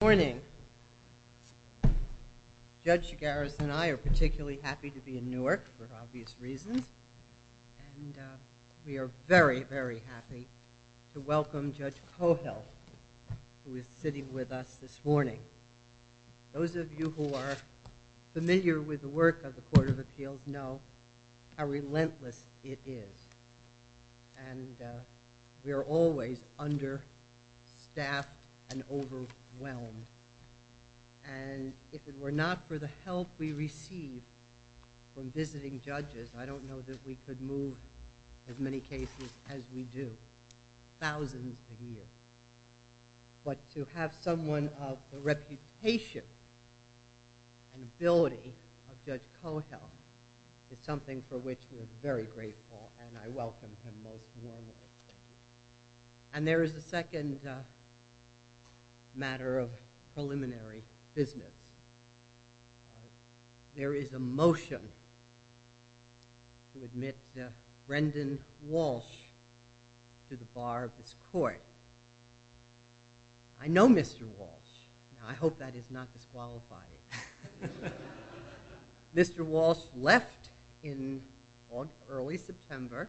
Good morning. Judge Garris and I are particularly happy to be in Newark for obvious reasons and we are very, very happy to welcome Judge Cohill, who is sitting with us this morning. Those of you who are familiar with the work of the Court of Appeals know how relentless it is and we are always understaffed and overwhelmed and if it were not for the help we receive from visiting judges, I don't know that we could move as many cases as we do, thousands a year. But to have someone of the reputation and ability of Judge Cohill is something for which we are very grateful and I welcome him most warmly. And there is a second matter of preliminary business. There is a motion to admit Brendan Walsh to the bar of this court. I know Mr. Walsh, I hope that is not disqualifying. Mr. Walsh left in early September,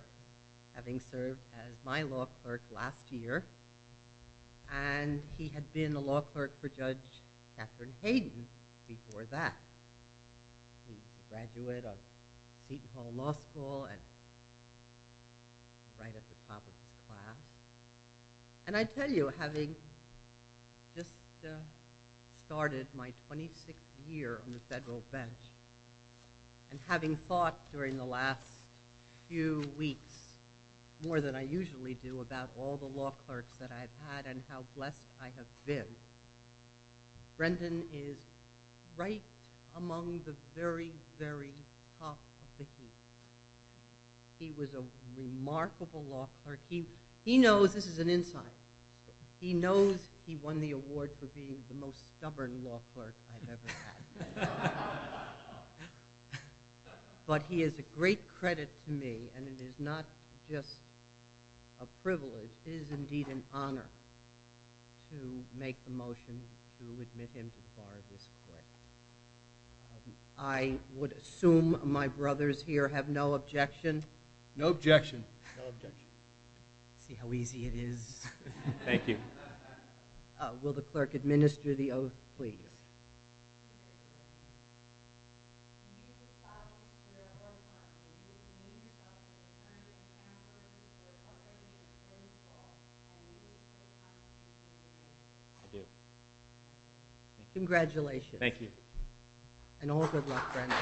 having served as my law clerk last year and he had been a law clerk for Judge Katherine Hayden before that. He was a graduate of Seton Hall Law School and right at the top of his class. And I tell you, having just started my 26th year on the federal bench and having thought during the last few weeks, more than I usually do, about all the law clerks that I have had and how blessed I have been, Brendan is right among the very, very top of the heap. He was a remarkable law clerk. He knows, this is an insight, he knows he won the award for being the most stubborn law clerk I have ever had. But he is a great credit to me and it is not just a privilege, it is indeed an honor to make the motion to admit him to the bar of this court. I would assume my brothers here have no objection? No objection. Let's see how easy it is. Thank you. Will the clerk administer the oath, please? Congratulations. Thank you. And all good luck, Brendan.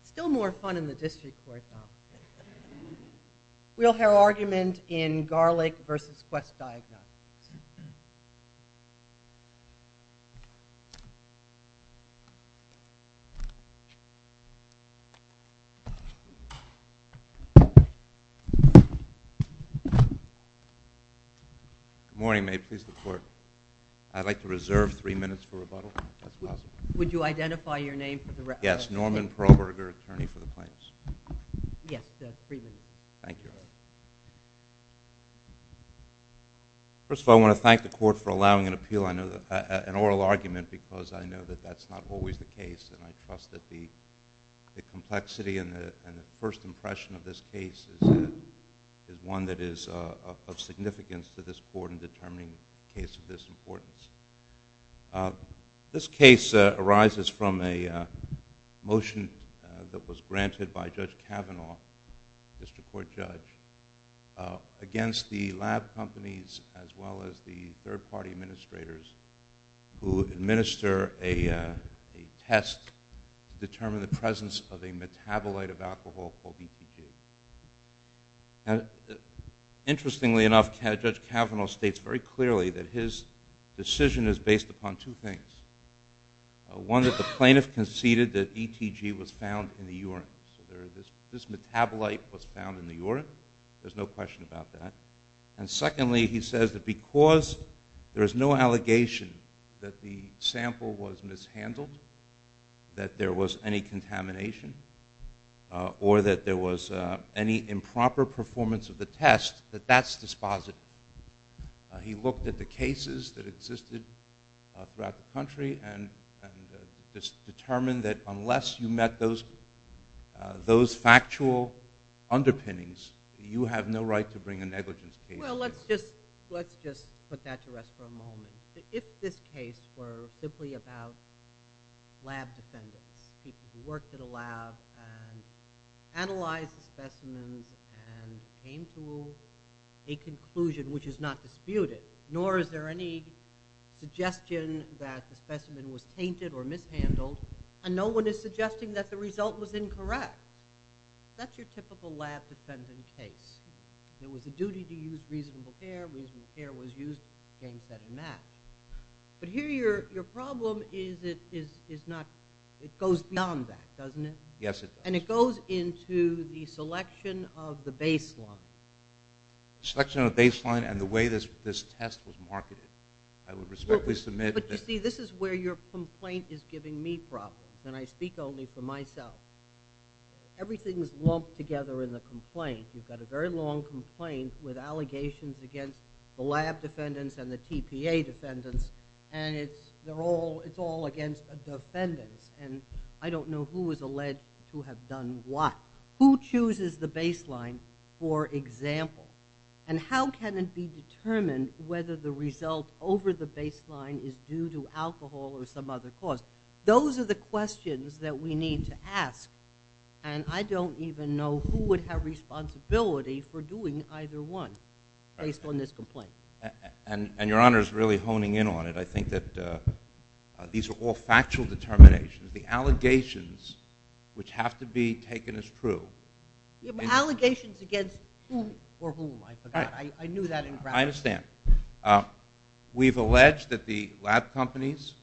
It's still more fun in the district court, though. We'll hear argument in Garlic v. Quest Diagnosis. Good morning, may it please the court. I'd like to reserve three minutes for rebuttal, if that's possible. Would you identify your name for the record? Yes, Norman Perlberger, attorney for the plaintiffs. Yes, three minutes. Thank you. Thank you. Thank you. Thank you. Thank you. First of all, I want to thank the court for allowing an oral argument because I know that that's not always the case and I trust that the complexity and the first impression of this case is one that is of significance to this court in determining a case of this importance. This case arises from a motion that was granted by Judge Kavanaugh, district court judge, against the lab companies as well as the third-party administrators who administer a test to determine the presence of a metabolite of alcohol called ETG. Interestingly enough, Judge Kavanaugh states very clearly that his decision is based upon two things. One, that the plaintiff conceded that ETG was found in the urine. So this metabolite was found in the urine. There's no question about that. And secondly, he says that because there is no allegation that the sample was mishandled, that there was any contamination, or that there was any improper performance of the test, that that's dispositive. He looked at the cases that existed throughout the country and determined that unless you met those factual underpinnings, you have no right to bring a negligence case to court. Well, let's just put that to rest for a moment. If this case were simply about lab defendants, people who worked at a lab and analyzed the specimens and came to a conclusion which is not disputed, nor is there any suggestion that the specimen was tainted or mishandled, and no one is suggesting that the result was incorrect, that's your typical lab defendant case. There was a duty to use reasonable care. Reasonable care was used against that in that. But here your problem is it goes beyond that, doesn't it? Yes, it does. And it goes into the selection of the baseline. The selection of the baseline and the way this test was marketed. I would respectfully submit that. But, you see, this is where your complaint is giving me problems, and I speak only for myself. Everything is lumped together in the complaint. You've got a very long complaint with allegations against the lab defendants and the TPA defendants, and it's all against a defendant, and I don't know who is alleged to have done what. Who chooses the baseline, for example? And how can it be determined whether the result over the baseline is due to alcohol or some other cause? Those are the questions that we need to ask, and I don't even know who would have responsibility for doing either one based on this complaint. And your Honor is really honing in on it. I think that these are all factual determinations. The allegations which have to be taken as true. Allegations against whom or whom, I forgot. I knew that in practice. I understand. We've alleged that the lab companies,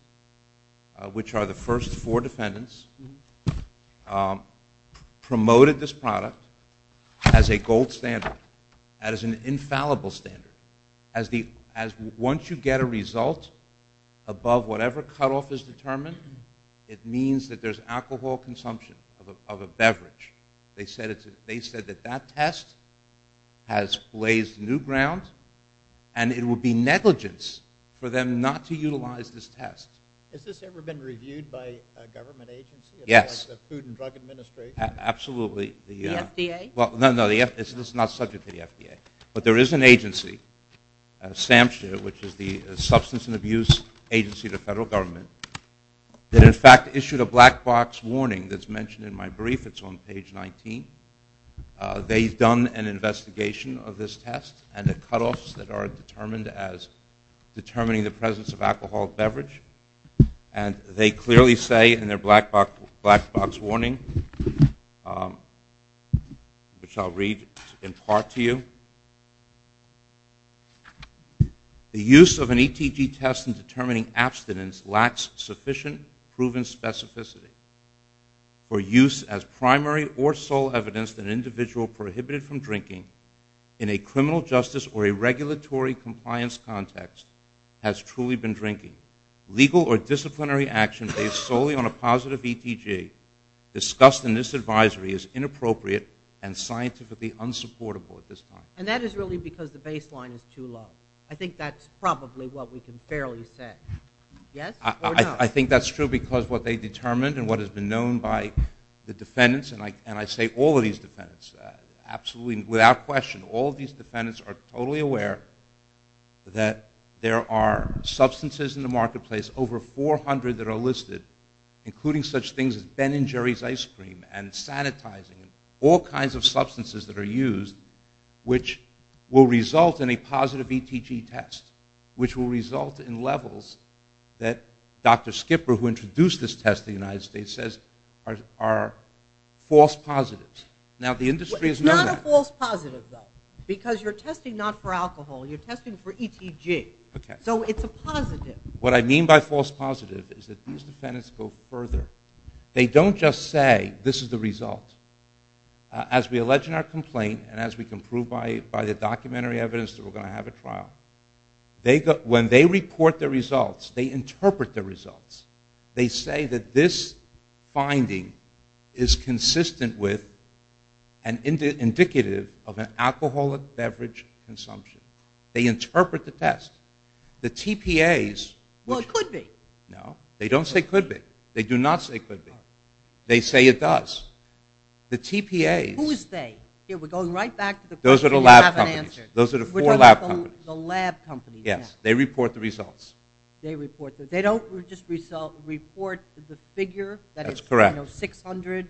which are the first four defendants, promoted this product as a gold standard, as an infallible standard. Once you get a result above whatever cutoff is determined, it means that there's alcohol consumption of a beverage. They said that that test has blazed new ground, and it would be negligence for them not to utilize this test. Has this ever been reviewed by a government agency? Yes. The Food and Drug Administration? Absolutely. The FDA? No, this is not subject to the FDA, but there is an agency, SAMHSA, which is the Substance Abuse Agency to Federal Government, that in fact issued a black box warning that's mentioned in my brief. It's on page 19. They've done an investigation of this test and the cutoffs that are determined as determining the presence of alcohol beverage. And they clearly say in their black box warning, which I'll read in part to you, the use of an ETG test in determining abstinence lacks sufficient proven specificity for use as primary or sole evidence that an individual prohibited from drinking in a criminal justice or a regulatory compliance context has truly been drinking. Legal or disciplinary action based solely on a positive ETG discussed in this advisory is inappropriate and scientifically unsupportable at this time. And that is really because the baseline is too low. I think that's probably what we can fairly say. Yes or no? I think that's true because what they determined and what has been known by the defendants, and I say all of these defendants, absolutely without question, all of these defendants are totally aware that there are substances in the marketplace, over 400 that are listed, including such things as Ben and Jerry's ice cream and sanitizing, all kinds of substances that are used which will result in a positive ETG test, which will result in levels that Dr. Skipper, who introduced this test in the United States, says are false positives. Now the industry has known that. It's not a false positive, though, because you're testing not for alcohol. You're testing for ETG. So it's a positive. What I mean by false positive is that these defendants go further. They don't just say this is the result. As we allege in our complaint and as we can prove by the documentary evidence that we're going to have a trial, when they report their results, they interpret their results. They say that this finding is consistent with and indicative of an alcoholic beverage consumption. They interpret the test. The TPAs... Well, it could be. No, they don't say could be. They do not say could be. They say it does. The TPAs... Who's they? Here, we're going right back to the question you haven't answered. Those are the lab companies. Those are the four lab companies. The lab companies. Yes, they report the results. They report the results. They don't just report the figure. That's correct. You know, 600,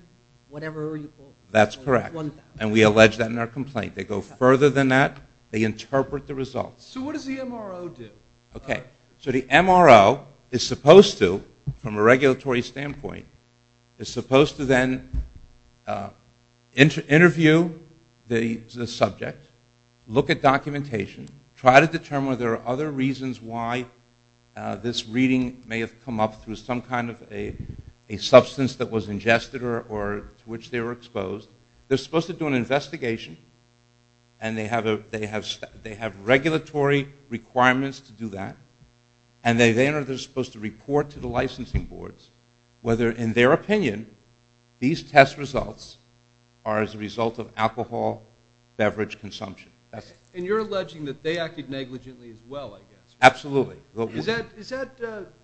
whatever you call them. That's correct. And we allege that in our complaint. They go further than that. They interpret the results. So what does the MRO do? Okay. So the MRO is supposed to, from a regulatory standpoint, is supposed to then interview the subject, look at documentation, try to determine whether there are other reasons why this reading may have come up through some kind of a substance that was ingested or to which they were exposed. They're supposed to do an investigation, and they have regulatory requirements to do that, and then they're supposed to report to the licensing boards whether, in their opinion, these test results are as a result of alcohol, beverage consumption. And you're alleging that they acted negligently as well, I guess. Absolutely. Is that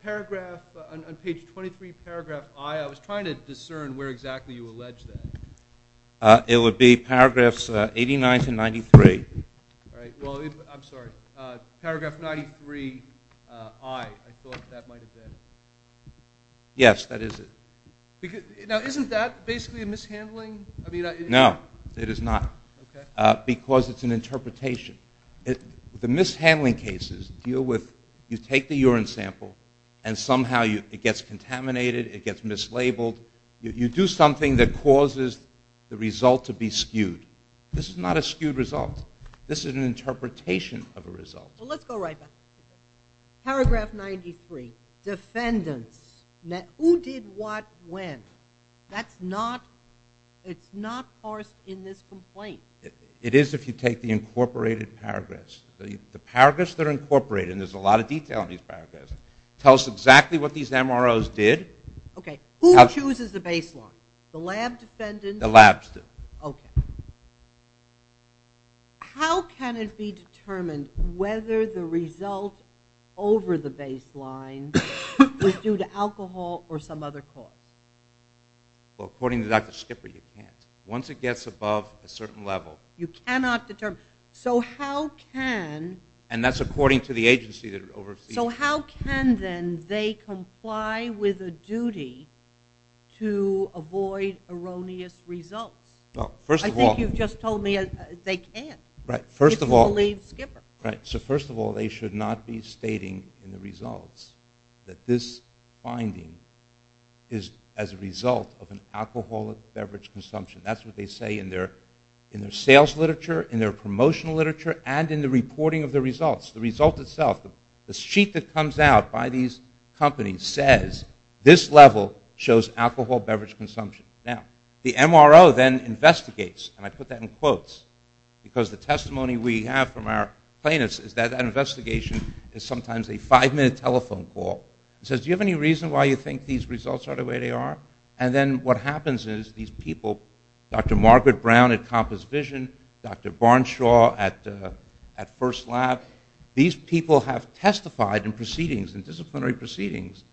paragraph on page 23, paragraph I, I was trying to discern where exactly you allege that. It would be paragraphs 89 to 93. All right. Well, I'm sorry. Paragraph 93I, I thought that might have been. Yes, that is it. Now, isn't that basically a mishandling? No, it is not because it's an interpretation. The mishandling cases deal with you take the urine sample and somehow it gets contaminated, it gets mislabeled. You do something that causes the result to be skewed. This is not a skewed result. This is an interpretation of a result. Well, let's go right back. Paragraph 93, defendants. Who did what when? That's not parsed in this complaint. It is if you take the incorporated paragraphs. The paragraphs that are incorporated, and there's a lot of detail in these paragraphs, tell us exactly what these MROs did. Okay. Who chooses the baseline? The lab defendants? The labs do. Okay. How can it be determined whether the result over the baseline was due to alcohol or some other cause? Well, according to Dr. Skipper, you can't. Once it gets above a certain level. You cannot determine. So how can. And that's according to the agency that oversees it. So how can then they comply with a duty to avoid erroneous results? Well, first of all. I think you've just told me they can't. Right. If you believe Skipper. Right. So first of all, they should not be stating in the results that this finding is as a result of an alcoholic beverage consumption. That's what they say in their sales literature, in their promotional literature, and in the reporting of the results. The result itself, the sheet that comes out by these companies says, this level shows alcohol beverage consumption. Now, the MRO then investigates, and I put that in quotes, because the testimony we have from our plaintiffs is that that investigation is sometimes a five-minute telephone call. It says, do you have any reason why you think these results are the way they are? And then what happens is these people, Dr. Margaret Brown at Compass Vision, Dr. Barnshaw at First Lab, these people have testified in proceedings, in disciplinary proceedings,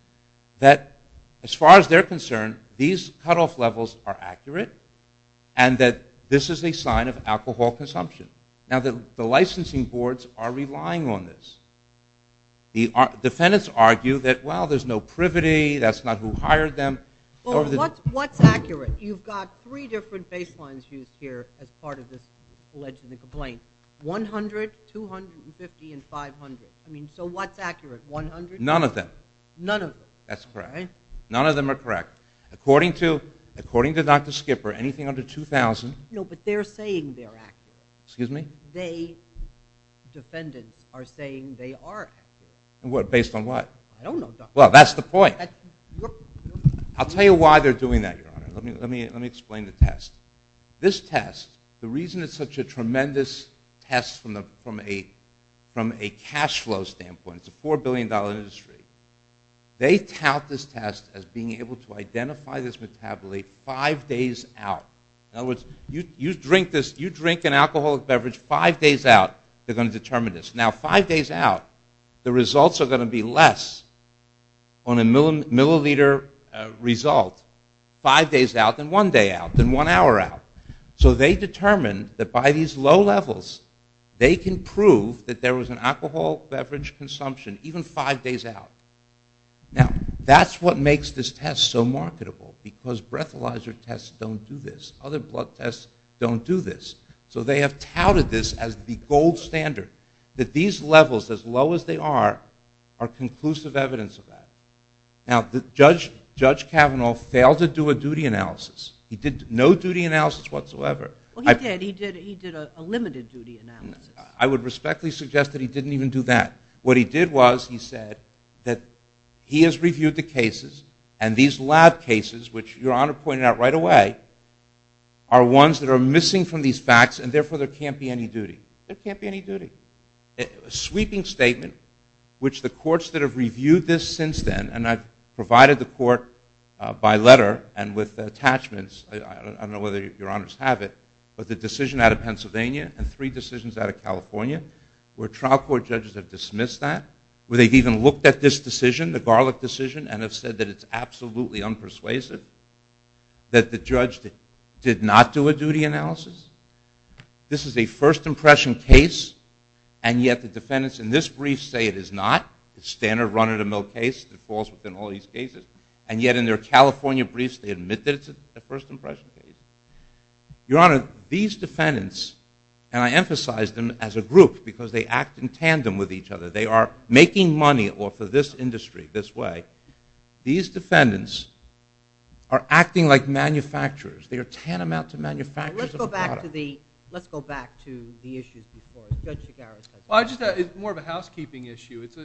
that as far as they're concerned, these cutoff levels are accurate and that this is a sign of alcohol consumption. Now, the licensing boards are relying on this. The defendants argue that, well, there's no privity, that's not who hired them. Well, what's accurate? You've got three different baselines used here as part of this alleged complaint, 100, 250, and 500. I mean, so what's accurate, 100? None of them. None of them. That's correct. None of them are correct. According to Dr. Skipper, anything under 2,000. No, but they're saying they're accurate. Excuse me? They, defendants, are saying they are accurate. Based on what? I don't know, Dr. Skipper. Well, that's the point. I'll tell you why they're doing that, Your Honor. Let me explain the test. This test, the reason it's such a tremendous test from a cash flow standpoint, it's a $4 billion industry, they tout this test as being able to identify this metabolite five days out. In other words, you drink an alcoholic beverage five days out, they're going to determine this. Now, five days out, the results are going to be less on a milliliter result, five days out than one day out, than one hour out. So they determined that by these low levels, they can prove that there was an alcohol beverage consumption even five days out. Now, that's what makes this test so marketable, because breathalyzer tests don't do this. Other blood tests don't do this. So they have touted this as the gold standard, that these levels, as low as they are, are conclusive evidence of that. Now, Judge Kavanaugh failed to do a duty analysis. He did no duty analysis whatsoever. Well, he did. He did a limited duty analysis. I would respectfully suggest that he didn't even do that. What he did was he said that he has reviewed the cases, and these lab cases, which Your Honor pointed out right away, are ones that are missing from these facts, and therefore there can't be any duty. There can't be any duty. A sweeping statement, which the courts that have reviewed this since then, and I've provided the court by letter and with attachments, I don't know whether Your Honors have it, but the decision out of Pennsylvania and three decisions out of California, where trial court judges have dismissed that, where they've even looked at this decision, the garlic decision, and have said that it's absolutely unpersuasive, that the judge did not do a duty analysis. This is a first impression case, and yet the defendants in this brief say it is not. It's standard run-of-the-mill case that falls within all these cases, and yet in their California briefs they admit that it's a first impression case. Your Honor, these defendants, and I emphasize them as a group because they act in tandem with each other. They are making money off of this industry this way. These defendants are acting like manufacturers. They are tantamount to manufacturers of product. Let's go back to the issues before. Judge Chigarro's question. It's more of a housekeeping issue. It's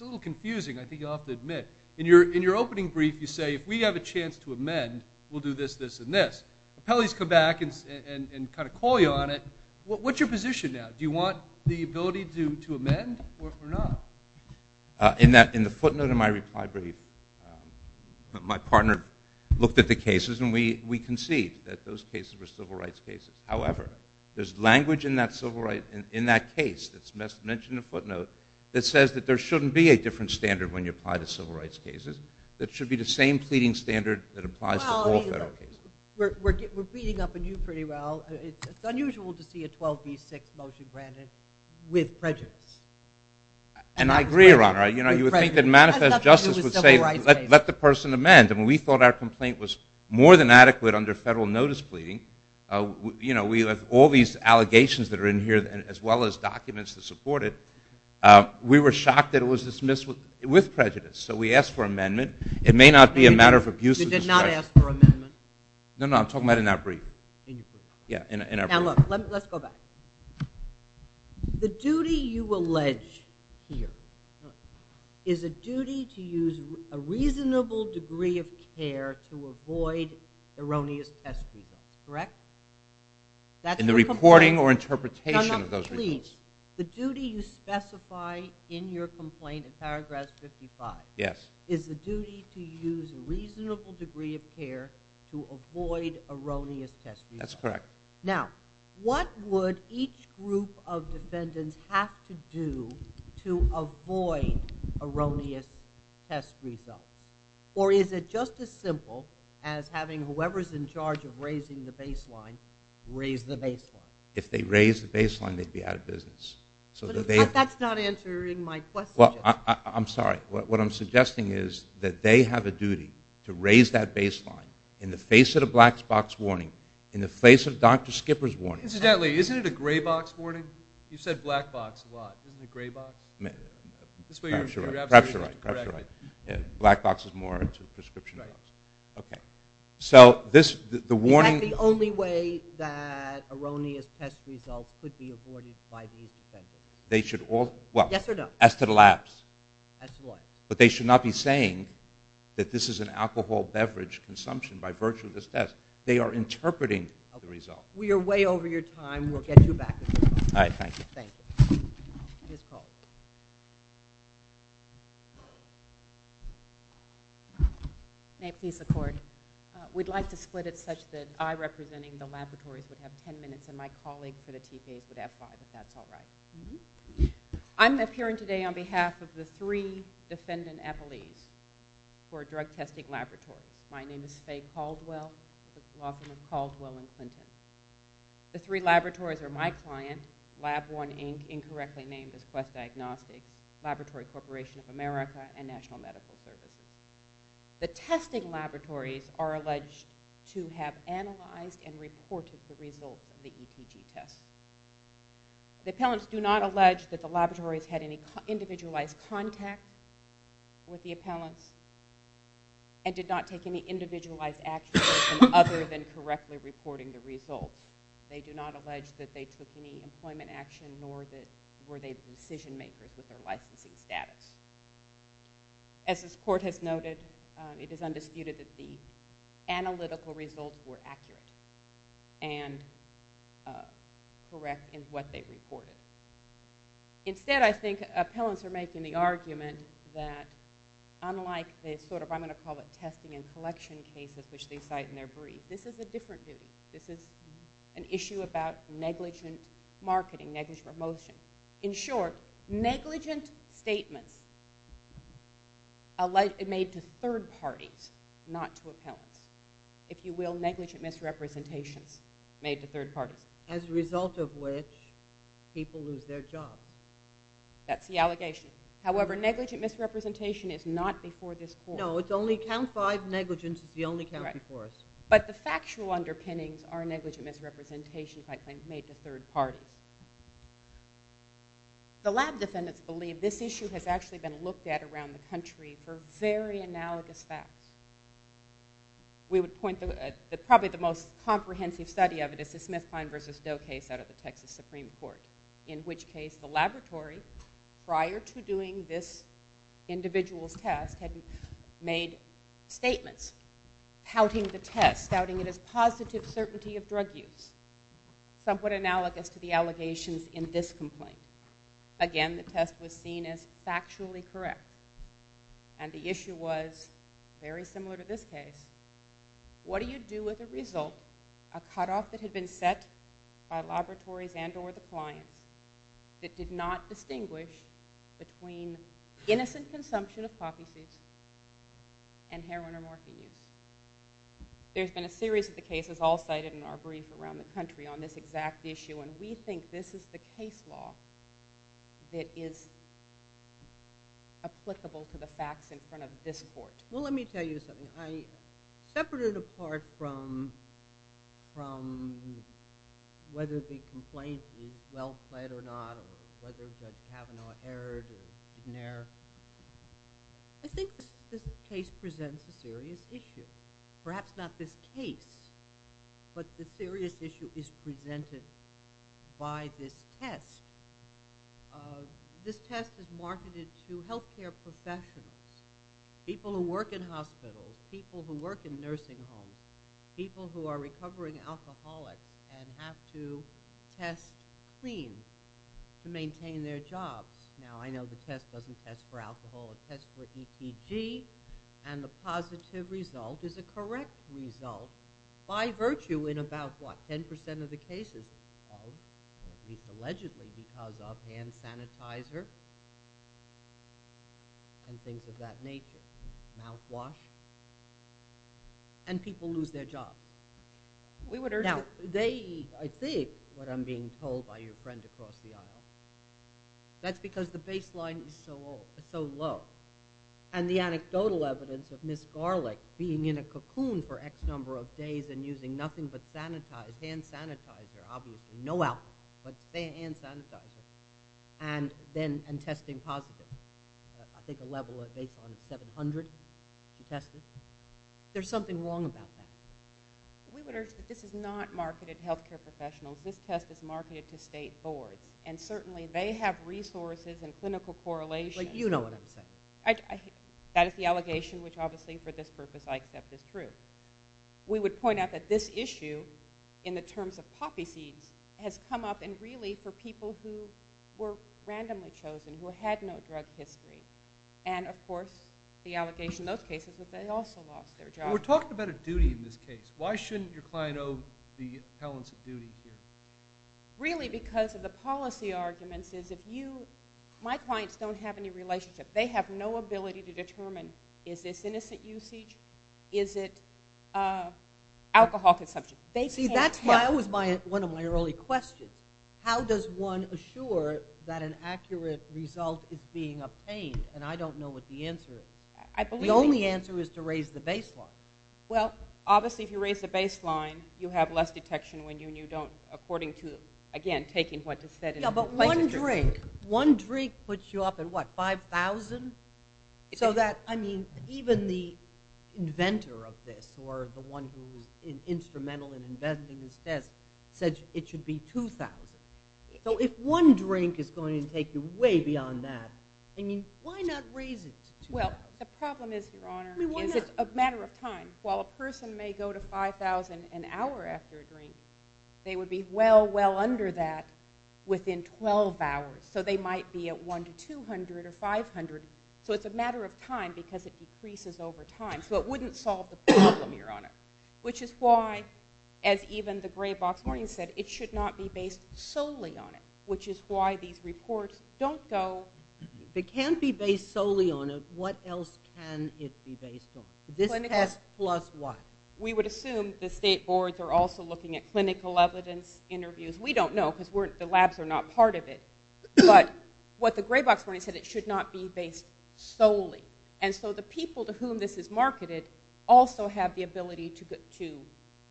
a little confusing, I think you'll have to admit. In your opening brief you say, if we have a chance to amend, we'll do this, this, and this. Appellees come back and kind of call you on it. What's your position now? Do you want the ability to amend or not? In the footnote in my reply brief, my partner looked at the cases and we conceived that those cases were civil rights cases. However, there's language in that case that's mentioned in the footnote that says that there shouldn't be a different standard when you apply to civil rights cases. It should be the same pleading standard that applies to all federal cases. We're beating up on you pretty well. It's unusual to see a 12b6 motion granted with prejudice. And I agree, Your Honor. You would think that manifest justice would say, let the person amend. We thought our complaint was more than adequate under federal notice pleading. We have all these allegations that are in here as well as documents to support it. We were shocked that it was dismissed with prejudice. So we asked for amendment. It may not be a matter of abuse of discretion. You did not ask for amendment? No, no, I'm talking about in our brief. Now look, let's go back. The duty you allege here is a duty to use a reasonable degree of care to avoid erroneous test results, correct? In the reporting or interpretation of those reports. No, no, please. The duty you specify in your complaint in paragraph 55 is the duty to use a reasonable degree of care to avoid erroneous test results. That's correct. Now, what would each group of defendants have to do to avoid erroneous test results? Or is it just as simple as having whoever's in charge of raising the baseline raise the baseline? If they raise the baseline, they'd be out of business. But that's not answering my question. Well, I'm sorry. What I'm suggesting is that they have a duty to raise that baseline in the face of the black box warning, in the face of Dr. Skipper's warning. Incidentally, isn't it a gray box warning? You said black box a lot. Isn't it gray box? Perhaps you're right. Perhaps you're right. Black box is more into prescription drugs. Okay. So this, the warning. Is that the only way that erroneous test results could be avoided by these defendants? They should all, well. Yes or no? As to the labs. As to what? But they should not be saying that this is an alcohol beverage consumption by virtue of this test. They are interpreting the result. We are way over your time. We'll get you back. All right. Thank you. Thank you. Ms. Caldwell. May peace accord. We'd like to split it such that I, representing the laboratories, would have ten minutes and my colleague for the TPAs would have five, if that's all right. I'm appearing today on behalf of the three defendant appellees for drug testing laboratories. My name is Faye Caldwell. Welcome to Caldwell and Clinton. The three laboratories are my client, LabOne, Inc., incorrectly named as Quest Diagnostics, Laboratory Corporation of America, and National Medical Services. The testing laboratories are alleged to have analyzed and reported the results of the ETG test. The appellants do not allege that the laboratories had any individualized contact with the appellants and did not take any individualized action other than correctly reporting the results. They do not allege that they took any employment action nor were they decision makers with their licensing status. As this court has noted, it is undisputed that the analytical results were accurate and correct in what they reported. Instead, I think appellants are making the argument that unlike the sort of, I'm going to call it, testing and collection cases, which they cite in their brief, this is a different view. This is an issue about negligent marketing, negligent promotion. In short, negligent statements made to third parties, not to appellants. If you will, negligent misrepresentations made to third parties. As a result of which, people lose their jobs. That's the allegation. However, negligent misrepresentation is not before this court. No, it's only count five negligents. It's the only count before us. But the factual underpinnings are negligent misrepresentations by claims made to third parties. The lab defendants believe this issue has actually been looked at around the country for very analogous facts. We would point to probably the most comprehensive study of it and this is Smith-Pine v. Doe case out of the Texas Supreme Court, in which case the laboratory, prior to doing this individual's test, had made statements pouting the test, doubting it as positive certainty of drug use, somewhat analogous to the allegations in this complaint. Again, the test was seen as factually correct. And the issue was very similar to this case. What do you do with a result, a cutoff that had been set by laboratories and or the clients, that did not distinguish between innocent consumption of coffee seeds and heroin or morphine use? There's been a series of the cases all cited in our brief around the country on this exact issue, and we think this is the case law that is applicable to the facts in front of this court. Well, let me tell you something. I separate it apart from whether the complaint is well-played or not or whether there's a Cavanaugh error or McNair. I think this case presents a serious issue. Perhaps not this case, but the serious issue is presented by this test. This test is marketed to health care professionals, people who work in hospitals, people who work in nursing homes, people who are recovering alcoholics and have to test clean to maintain their jobs. Now, I know the test doesn't test for alcohol. It tests for ETG, and the positive result is a correct result, by virtue in about, what, 10% of the cases, allegedly because of hand sanitizer and things of that nature, mouthwash, and people lose their jobs. Now, I think what I'm being told by your friend across the aisle, that's because the baseline is so low, and the anecdotal evidence of Ms. Garlick being in a cocoon for X number of days and using nothing but hand sanitizer, obviously no alcohol, but hand sanitizer, and testing positive. I think the level of baseline is 700 to test it. There's something wrong about that. We would urge that this is not marketed to health care professionals. This test is marketed to state boards, and certainly they have resources and clinical correlation. You know what I'm saying. That is the allegation, which obviously for this purpose I accept is true. We would point out that this issue, in the terms of poppy seeds, has come up, and really for people who were randomly chosen, who had no drug history, and, of course, the allegation in those cases is that they also lost their jobs. We're talking about a duty in this case. Why shouldn't your client owe the appellants a duty here? Really, because of the policy arguments. My clients don't have any relationship. They have no ability to determine, is this innocent usage? Is it alcohol consumption? See, that was one of my early questions. How does one assure that an accurate result is being obtained? And I don't know what the answer is. The only answer is to raise the baseline. Well, obviously, if you raise the baseline, you have less detection when you don't, according to, again, taking what is said in the complaint. Yeah, but one drink puts you off at, what, 5,000? So that, I mean, even the inventor of this, or the one who was instrumental in inventing this test, said it should be 2,000. So if one drink is going to take you way beyond that, I mean, why not raise it to 2,000? Well, the problem is, Your Honor, is it's a matter of time. While a person may go to 5,000 an hour after a drink, they would be well, well under that within 12 hours. So they might be at 1 to 200 or 500. So it's a matter of time because it decreases over time. So it wouldn't solve the problem, Your Honor, which is why, as even the gray box morning said, it should not be based solely on it, which is why these reports don't go. If it can't be based solely on it, what else can it be based on? This test plus what? We would assume the state boards are also looking at clinical evidence interviews. We don't know because the labs are not part of it. But what the gray box morning said, it should not be based solely. And so the people to whom this is marketed also have the ability to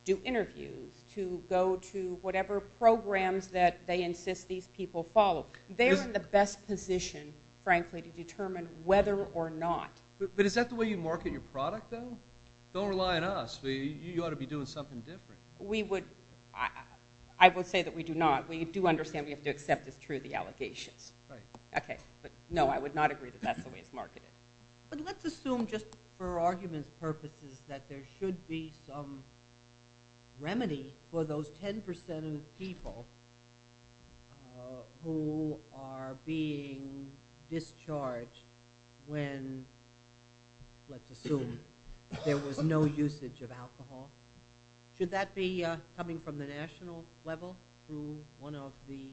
do interviews, to go to whatever programs that they insist these people follow. They're in the best position, frankly, to determine whether or not. But is that the way you market your product, though? Don't rely on us. You ought to be doing something different. We would – I would say that we do not. We do understand we have to accept it's true, the allegations. Right. Okay. But, no, I would not agree that that's the way it's marketed. But let's assume just for argument's purposes that there should be some remedy for those 10% of people who are being discharged when, let's assume, there was no usage of alcohol. Should that be coming from the national level through one of the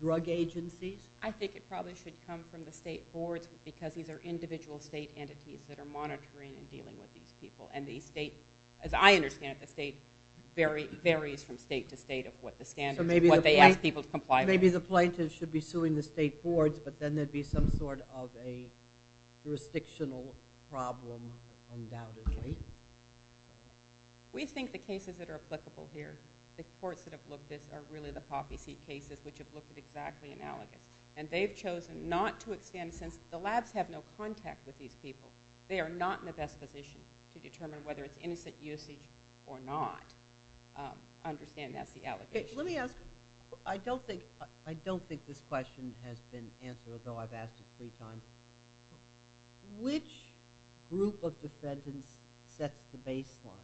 drug agencies? I think it probably should come from the state boards because these are individual state entities that are monitoring and dealing with these people. And the state, as I understand it, the state varies from state to state of what the standards are, what they ask people to comply with. So maybe the plaintiffs should be suing the state boards, but then there'd be some sort of a jurisdictional problem, undoubtedly. We think the cases that are applicable here, the courts that have looked at this, are really the poppy seed cases which have looked at exactly an allegation. And they've chosen not to extend, since the labs have no contact with these people, they are not in the best position to determine whether it's innocent usage or not. I understand that's the allegation. Let me ask, I don't think this question has been answered, though I've asked it three times. Which group of defendants set the baseline?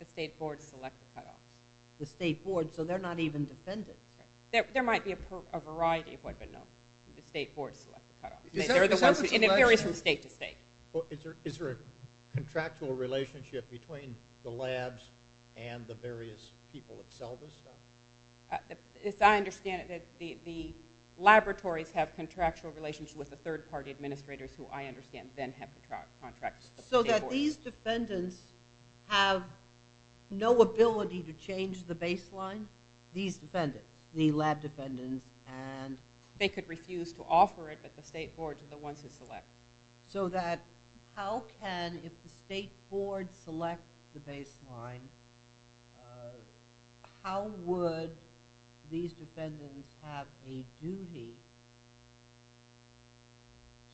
The state boards select the cutoff. The state boards, so they're not even defendants? There might be a variety of what, but no. The state boards select the cutoff. And it varies from state to state. Is there a contractual relationship between the labs and the various people that sell this stuff? As I understand it, the laboratories have contractual relations with the third-party administrators, who I understand then have contracts with the state boards. So that these defendants have no ability to change the baseline? These defendants, the lab defendants. They could refuse to offer it, but the state boards are the ones who select. So that how can, if the state board selects the baseline, how would these defendants have a duty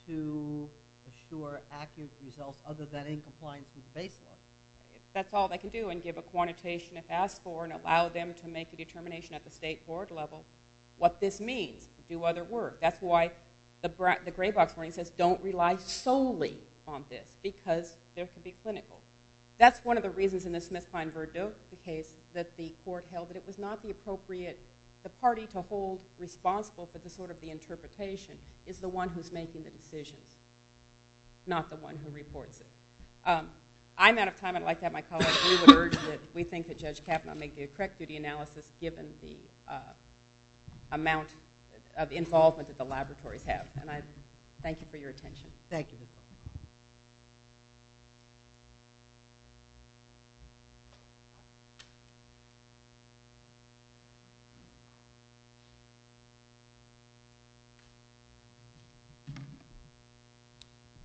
to assure accurate results other than in compliance with the baseline? That's all they can do, and give a quantitation if asked for, and allow them to make a determination at the state board level what this means to do other work. That's why the gray box warning says don't rely solely on this, because there could be clinical. That's one of the reasons in the Smith-Klein-Verdot case that the court held that it was not the appropriate party to hold responsible for the interpretation is the one who's making the decisions, not the one who reports it. I'm out of time. I'd like to have my colleague, Lou, urge that we think that Judge Kavanaugh may do a correct duty analysis given the amount of involvement that the laboratories have. And I thank you for your attention. Thank you.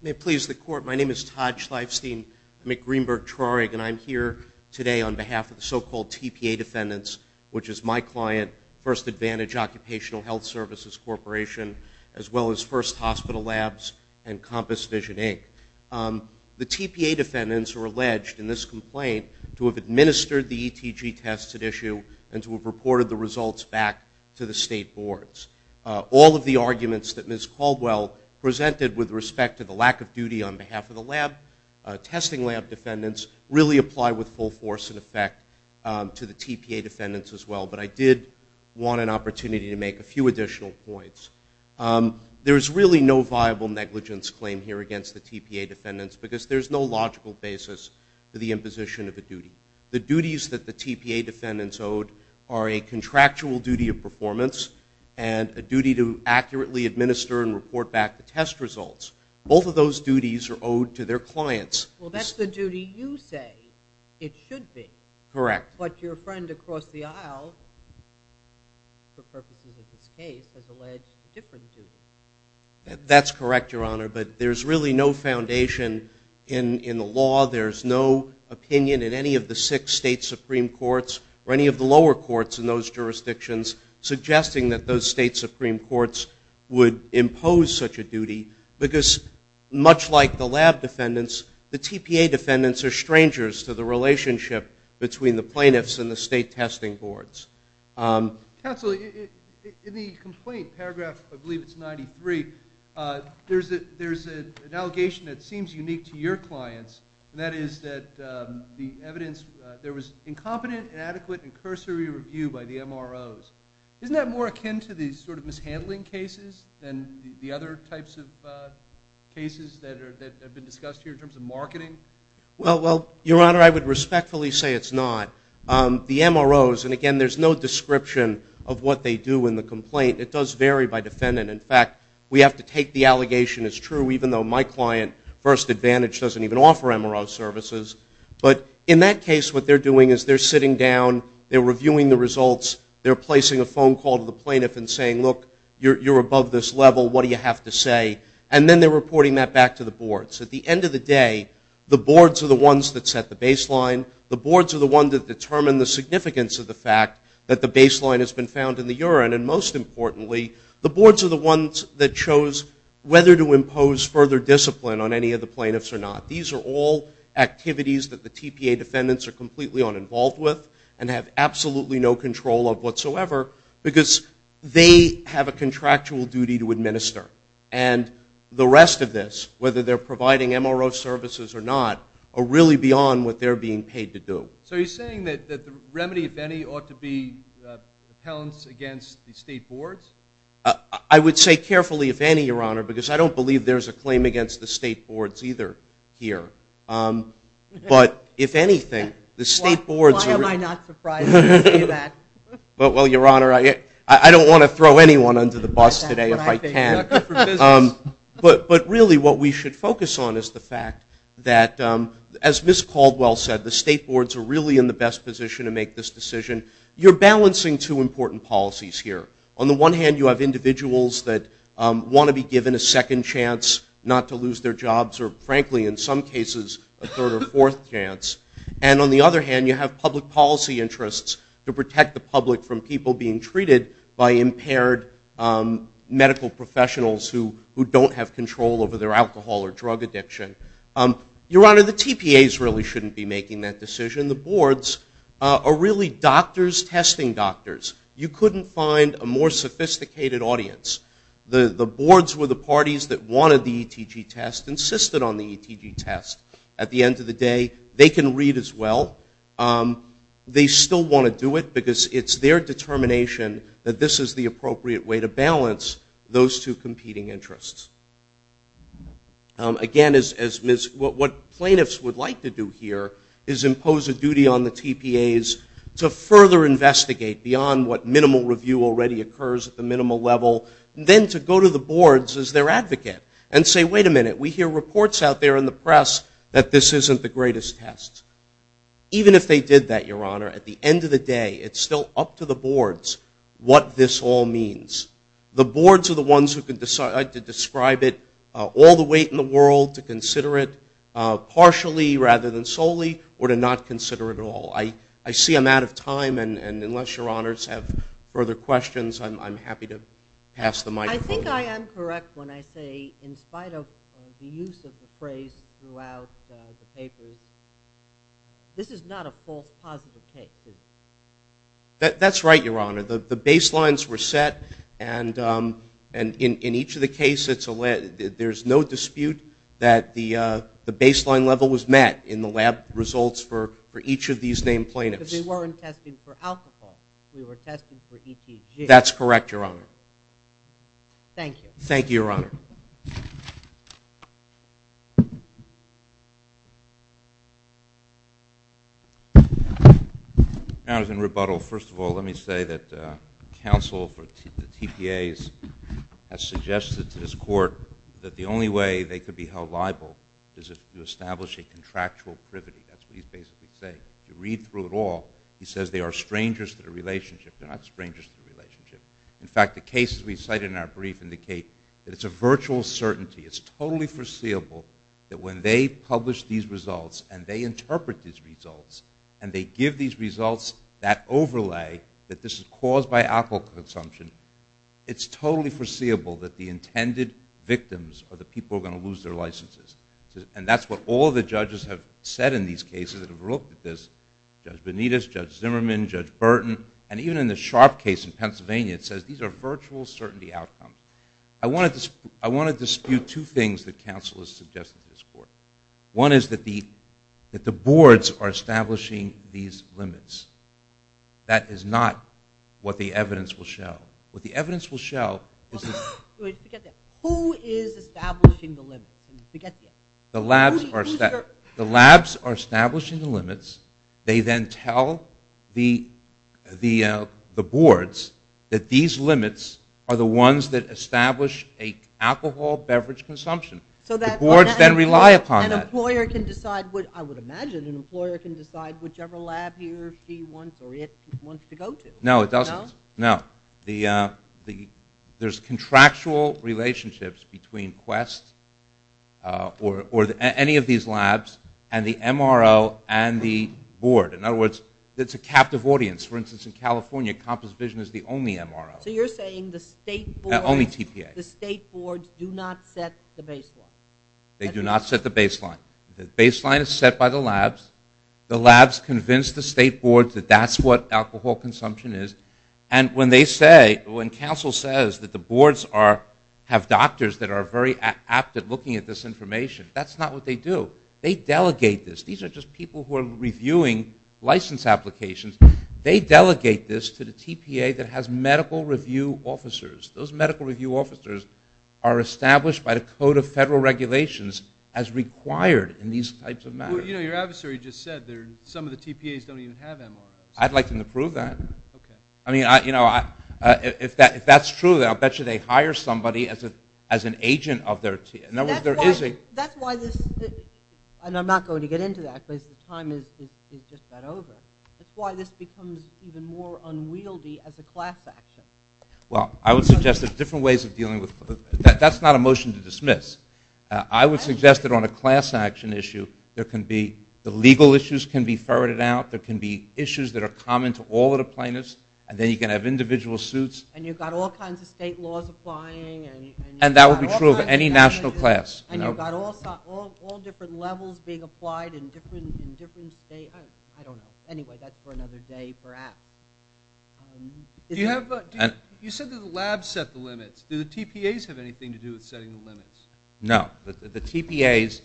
May it please the court. My name is Todd Schleifstein. I'm at Greenberg-Trarig, and I'm here today on behalf of the so-called TPA defendants, which is my client, First Advantage Occupational Health Services Corporation, as well as First Hospital Labs and Compass Vision, Inc. The TPA defendants are alleged in this complaint to have administered the ETG tests at issue and to have reported the results back to the state boards. All of the arguments that Ms. Caldwell presented with respect to the lack of duty on behalf of the lab, the testing lab defendants, really apply with full force and effect to the TPA defendants as well, but I did want an opportunity to make a few additional points. There is really no viable negligence claim here against the TPA defendants because there's no logical basis for the imposition of a duty. The duties that the TPA defendants owe are a contractual duty of performance and a duty to accurately administer and report back the test results. Both of those duties are owed to their clients. Well, that's the duty you say it should be. Correct. But your friend across the aisle, for purposes of this case, has alleged a different duty. That's correct, Your Honor, but there's really no foundation in the law. There's no opinion in any of the six state supreme courts or any of the lower courts in those jurisdictions suggesting that those state supreme courts would impose such a duty because, much like the lab defendants, the TPA defendants are strangers to the relationship between the plaintiffs and the state testing boards. Counsel, in the complaint, paragraph, I believe it's 93, there's an allegation that seems unique to your clients, and that is that the evidence, there was incompetent, inadequate, and cursory review by the MROs. Isn't that more akin to the sort of mishandling cases than the other types of cases that have been discussed here in terms of marketing? Well, Your Honor, I would respectfully say it's not. The MROs, and again, there's no description of what they do in the complaint. It does vary by defendant. In fact, we have to take the allegation as true, even though my client, First Advantage, doesn't even offer MRO services. But in that case, what they're doing is they're sitting down, they're reviewing the results, they're placing a phone call to the plaintiff and saying, look, you're above this level, what do you have to say? And then they're reporting that back to the boards. At the end of the day, the boards are the ones that set the baseline. The boards are the ones that determine the significance of the fact that the baseline has been found in the urine. And most importantly, the boards are the ones that chose whether to impose further discipline on any of the plaintiffs or not. These are all activities that the TPA defendants are completely uninvolved with and have absolutely no control of whatsoever because they have a contractual duty to administer. And the rest of this, whether they're providing MRO services or not, are really beyond what they're being paid to do. So you're saying that the remedy, if any, ought to be the talents against the state boards? I would say carefully, if any, Your Honor, because I don't believe there's a claim against the state boards either here. But if anything, the state boards... Why am I not surprised when you say that? Well, Your Honor, I don't want to throw anyone under the bus today if I can. But really, what we should focus on is the fact that, as Ms. Caldwell said, the state boards are really in the best position to make this decision. You're balancing two important policies here. On the one hand, you have individuals that want to be given a second chance not to lose their jobs, or frankly, in some cases, a third or fourth chance. And on the other hand, you have public policy interests to protect the public from people being treated by impaired medical professionals who don't have control over their alcohol or drug addiction. Your Honor, the TPAs really shouldn't be making that decision. The boards are really doctors testing doctors. You couldn't find a more sophisticated audience. The boards were the parties that wanted the ETG test, insisted on the ETG test. At the end of the day, they can read as well. They still want to do it because it's their determination that this is the appropriate way to balance those two competing interests. Again, what plaintiffs would like to do here is impose a duty on the TPAs to further investigate beyond what minimal review already occurs at the minimal level, then to go to the boards as their advocate and say, wait a minute, we hear reports out there in the press that this isn't the greatest test. Even if they did that, Your Honor, at the end of the day, it's still up to the boards what this all means. The boards are the ones who could decide to describe it all the way in the world to consider it partially rather than solely or to not consider it at all. I see I'm out of time, and unless Your Honors have further questions, I'm happy to pass the microphone. I think I am correct when I say in spite of the use of the phrase throughout the papers, this is not a false positive case. That's right, Your Honor. The baselines were set, and in each of the cases there's no dispute that the baseline level was met in the lab results for each of these named plaintiffs. Because they weren't testing for alcohol. We were testing for ETG. That's correct, Your Honor. Thank you. Thank you, Your Honor. In rebuttal, first of all, let me say that counsel for the TPAs has suggested to this court that the only way they could be held liable is if you establish a contractual privity. That's what he's basically saying. If you read through it all, he says they are strangers to the relationship. They're not strangers to the relationship. In fact, the cases we cited in our brief indicate that it's a virtual certainty. It's totally foreseeable that when they publish these results and they interpret these results and they give these results that overlay that this is caused by alcohol consumption, it's totally foreseeable that the intended victims are the people who are going to lose their licenses. And that's what all the judges have said in these cases that have looked at this, Judge Benitez, Judge Zimmerman, Judge Burton, and even in the Sharp case in Pennsylvania, it says these are virtual certainty outcomes. I want to dispute two things that counsel has suggested to this court. One is that the boards are establishing these limits. That is not what the evidence will show. What the evidence will show is that... Wait, forget that. Who is establishing the limits? Forget that. The labs are establishing the limits. They then tell the boards that these limits are the ones that establish an alcohol beverage consumption. The boards then rely upon that. I would imagine an employer can decide whichever lab he or she wants to go to. No, it doesn't. No? There's contractual relationships between Quest or any of these labs and the MRO and the board. In other words, it's a captive audience. For instance, in California, Compass Vision is the only MRO. So you're saying the state boards do not set the baseline. They do not set the baseline. The baseline is set by the labs. The labs convince the state boards that that's what alcohol consumption is. And when they say, when counsel says that the boards have doctors that are very apt at looking at this information, that's not what they do. They delegate this. These are just people who are reviewing license applications. They delegate this to the TPA that has medical review officers. Those medical review officers are established by the Code of Federal Regulations as required in these types of matters. Well, you know, your adversary just said some of the TPAs don't even have MROs. I'd like them to prove that. I mean, you know, if that's true, then I'll bet you they hire somebody as an agent of their TPA. In other words, there is a – That's why this – and I'm not going to get into that because the time is just about over. That's why this becomes even more unwieldy as a class action. Well, I would suggest there's different ways of dealing with – that's not a motion to dismiss. I would suggest that on a class action issue, there can be – the legal issues can be ferreted out. There can be issues that are common to all of the plaintiffs, and then you can have individual suits. And you've got all kinds of state laws applying. And that would be true of any national class. And you've got all different levels being applied in different states. I don't know. Anyway, that's for another day perhaps. You said that the labs set the limits. Do the TPAs have anything to do with setting the limits? No. The TPAs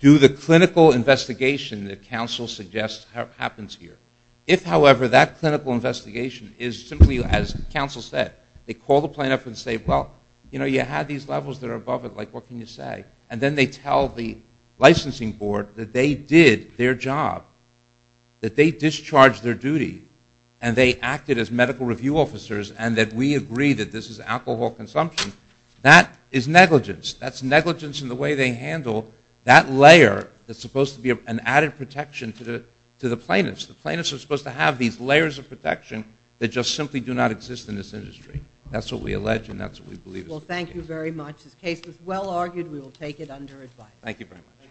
do the clinical investigation that counsel suggests happens here. If, however, that clinical investigation is simply, as counsel said, they call the plaintiff and say, well, you know, you had these levels that are above it. Like, what can you say? And then they tell the licensing board that they did their job, that they discharged their duty, and they acted as medical review officers and that we agree that this is alcohol consumption. That is negligence. That's negligence in the way they handle that layer that's supposed to be an added protection to the plaintiffs. The plaintiffs are supposed to have these layers of protection that just simply do not exist in this industry. That's what we allege and that's what we believe. Well, thank you very much. This case is well argued. We will take it under advice. Thank you very much.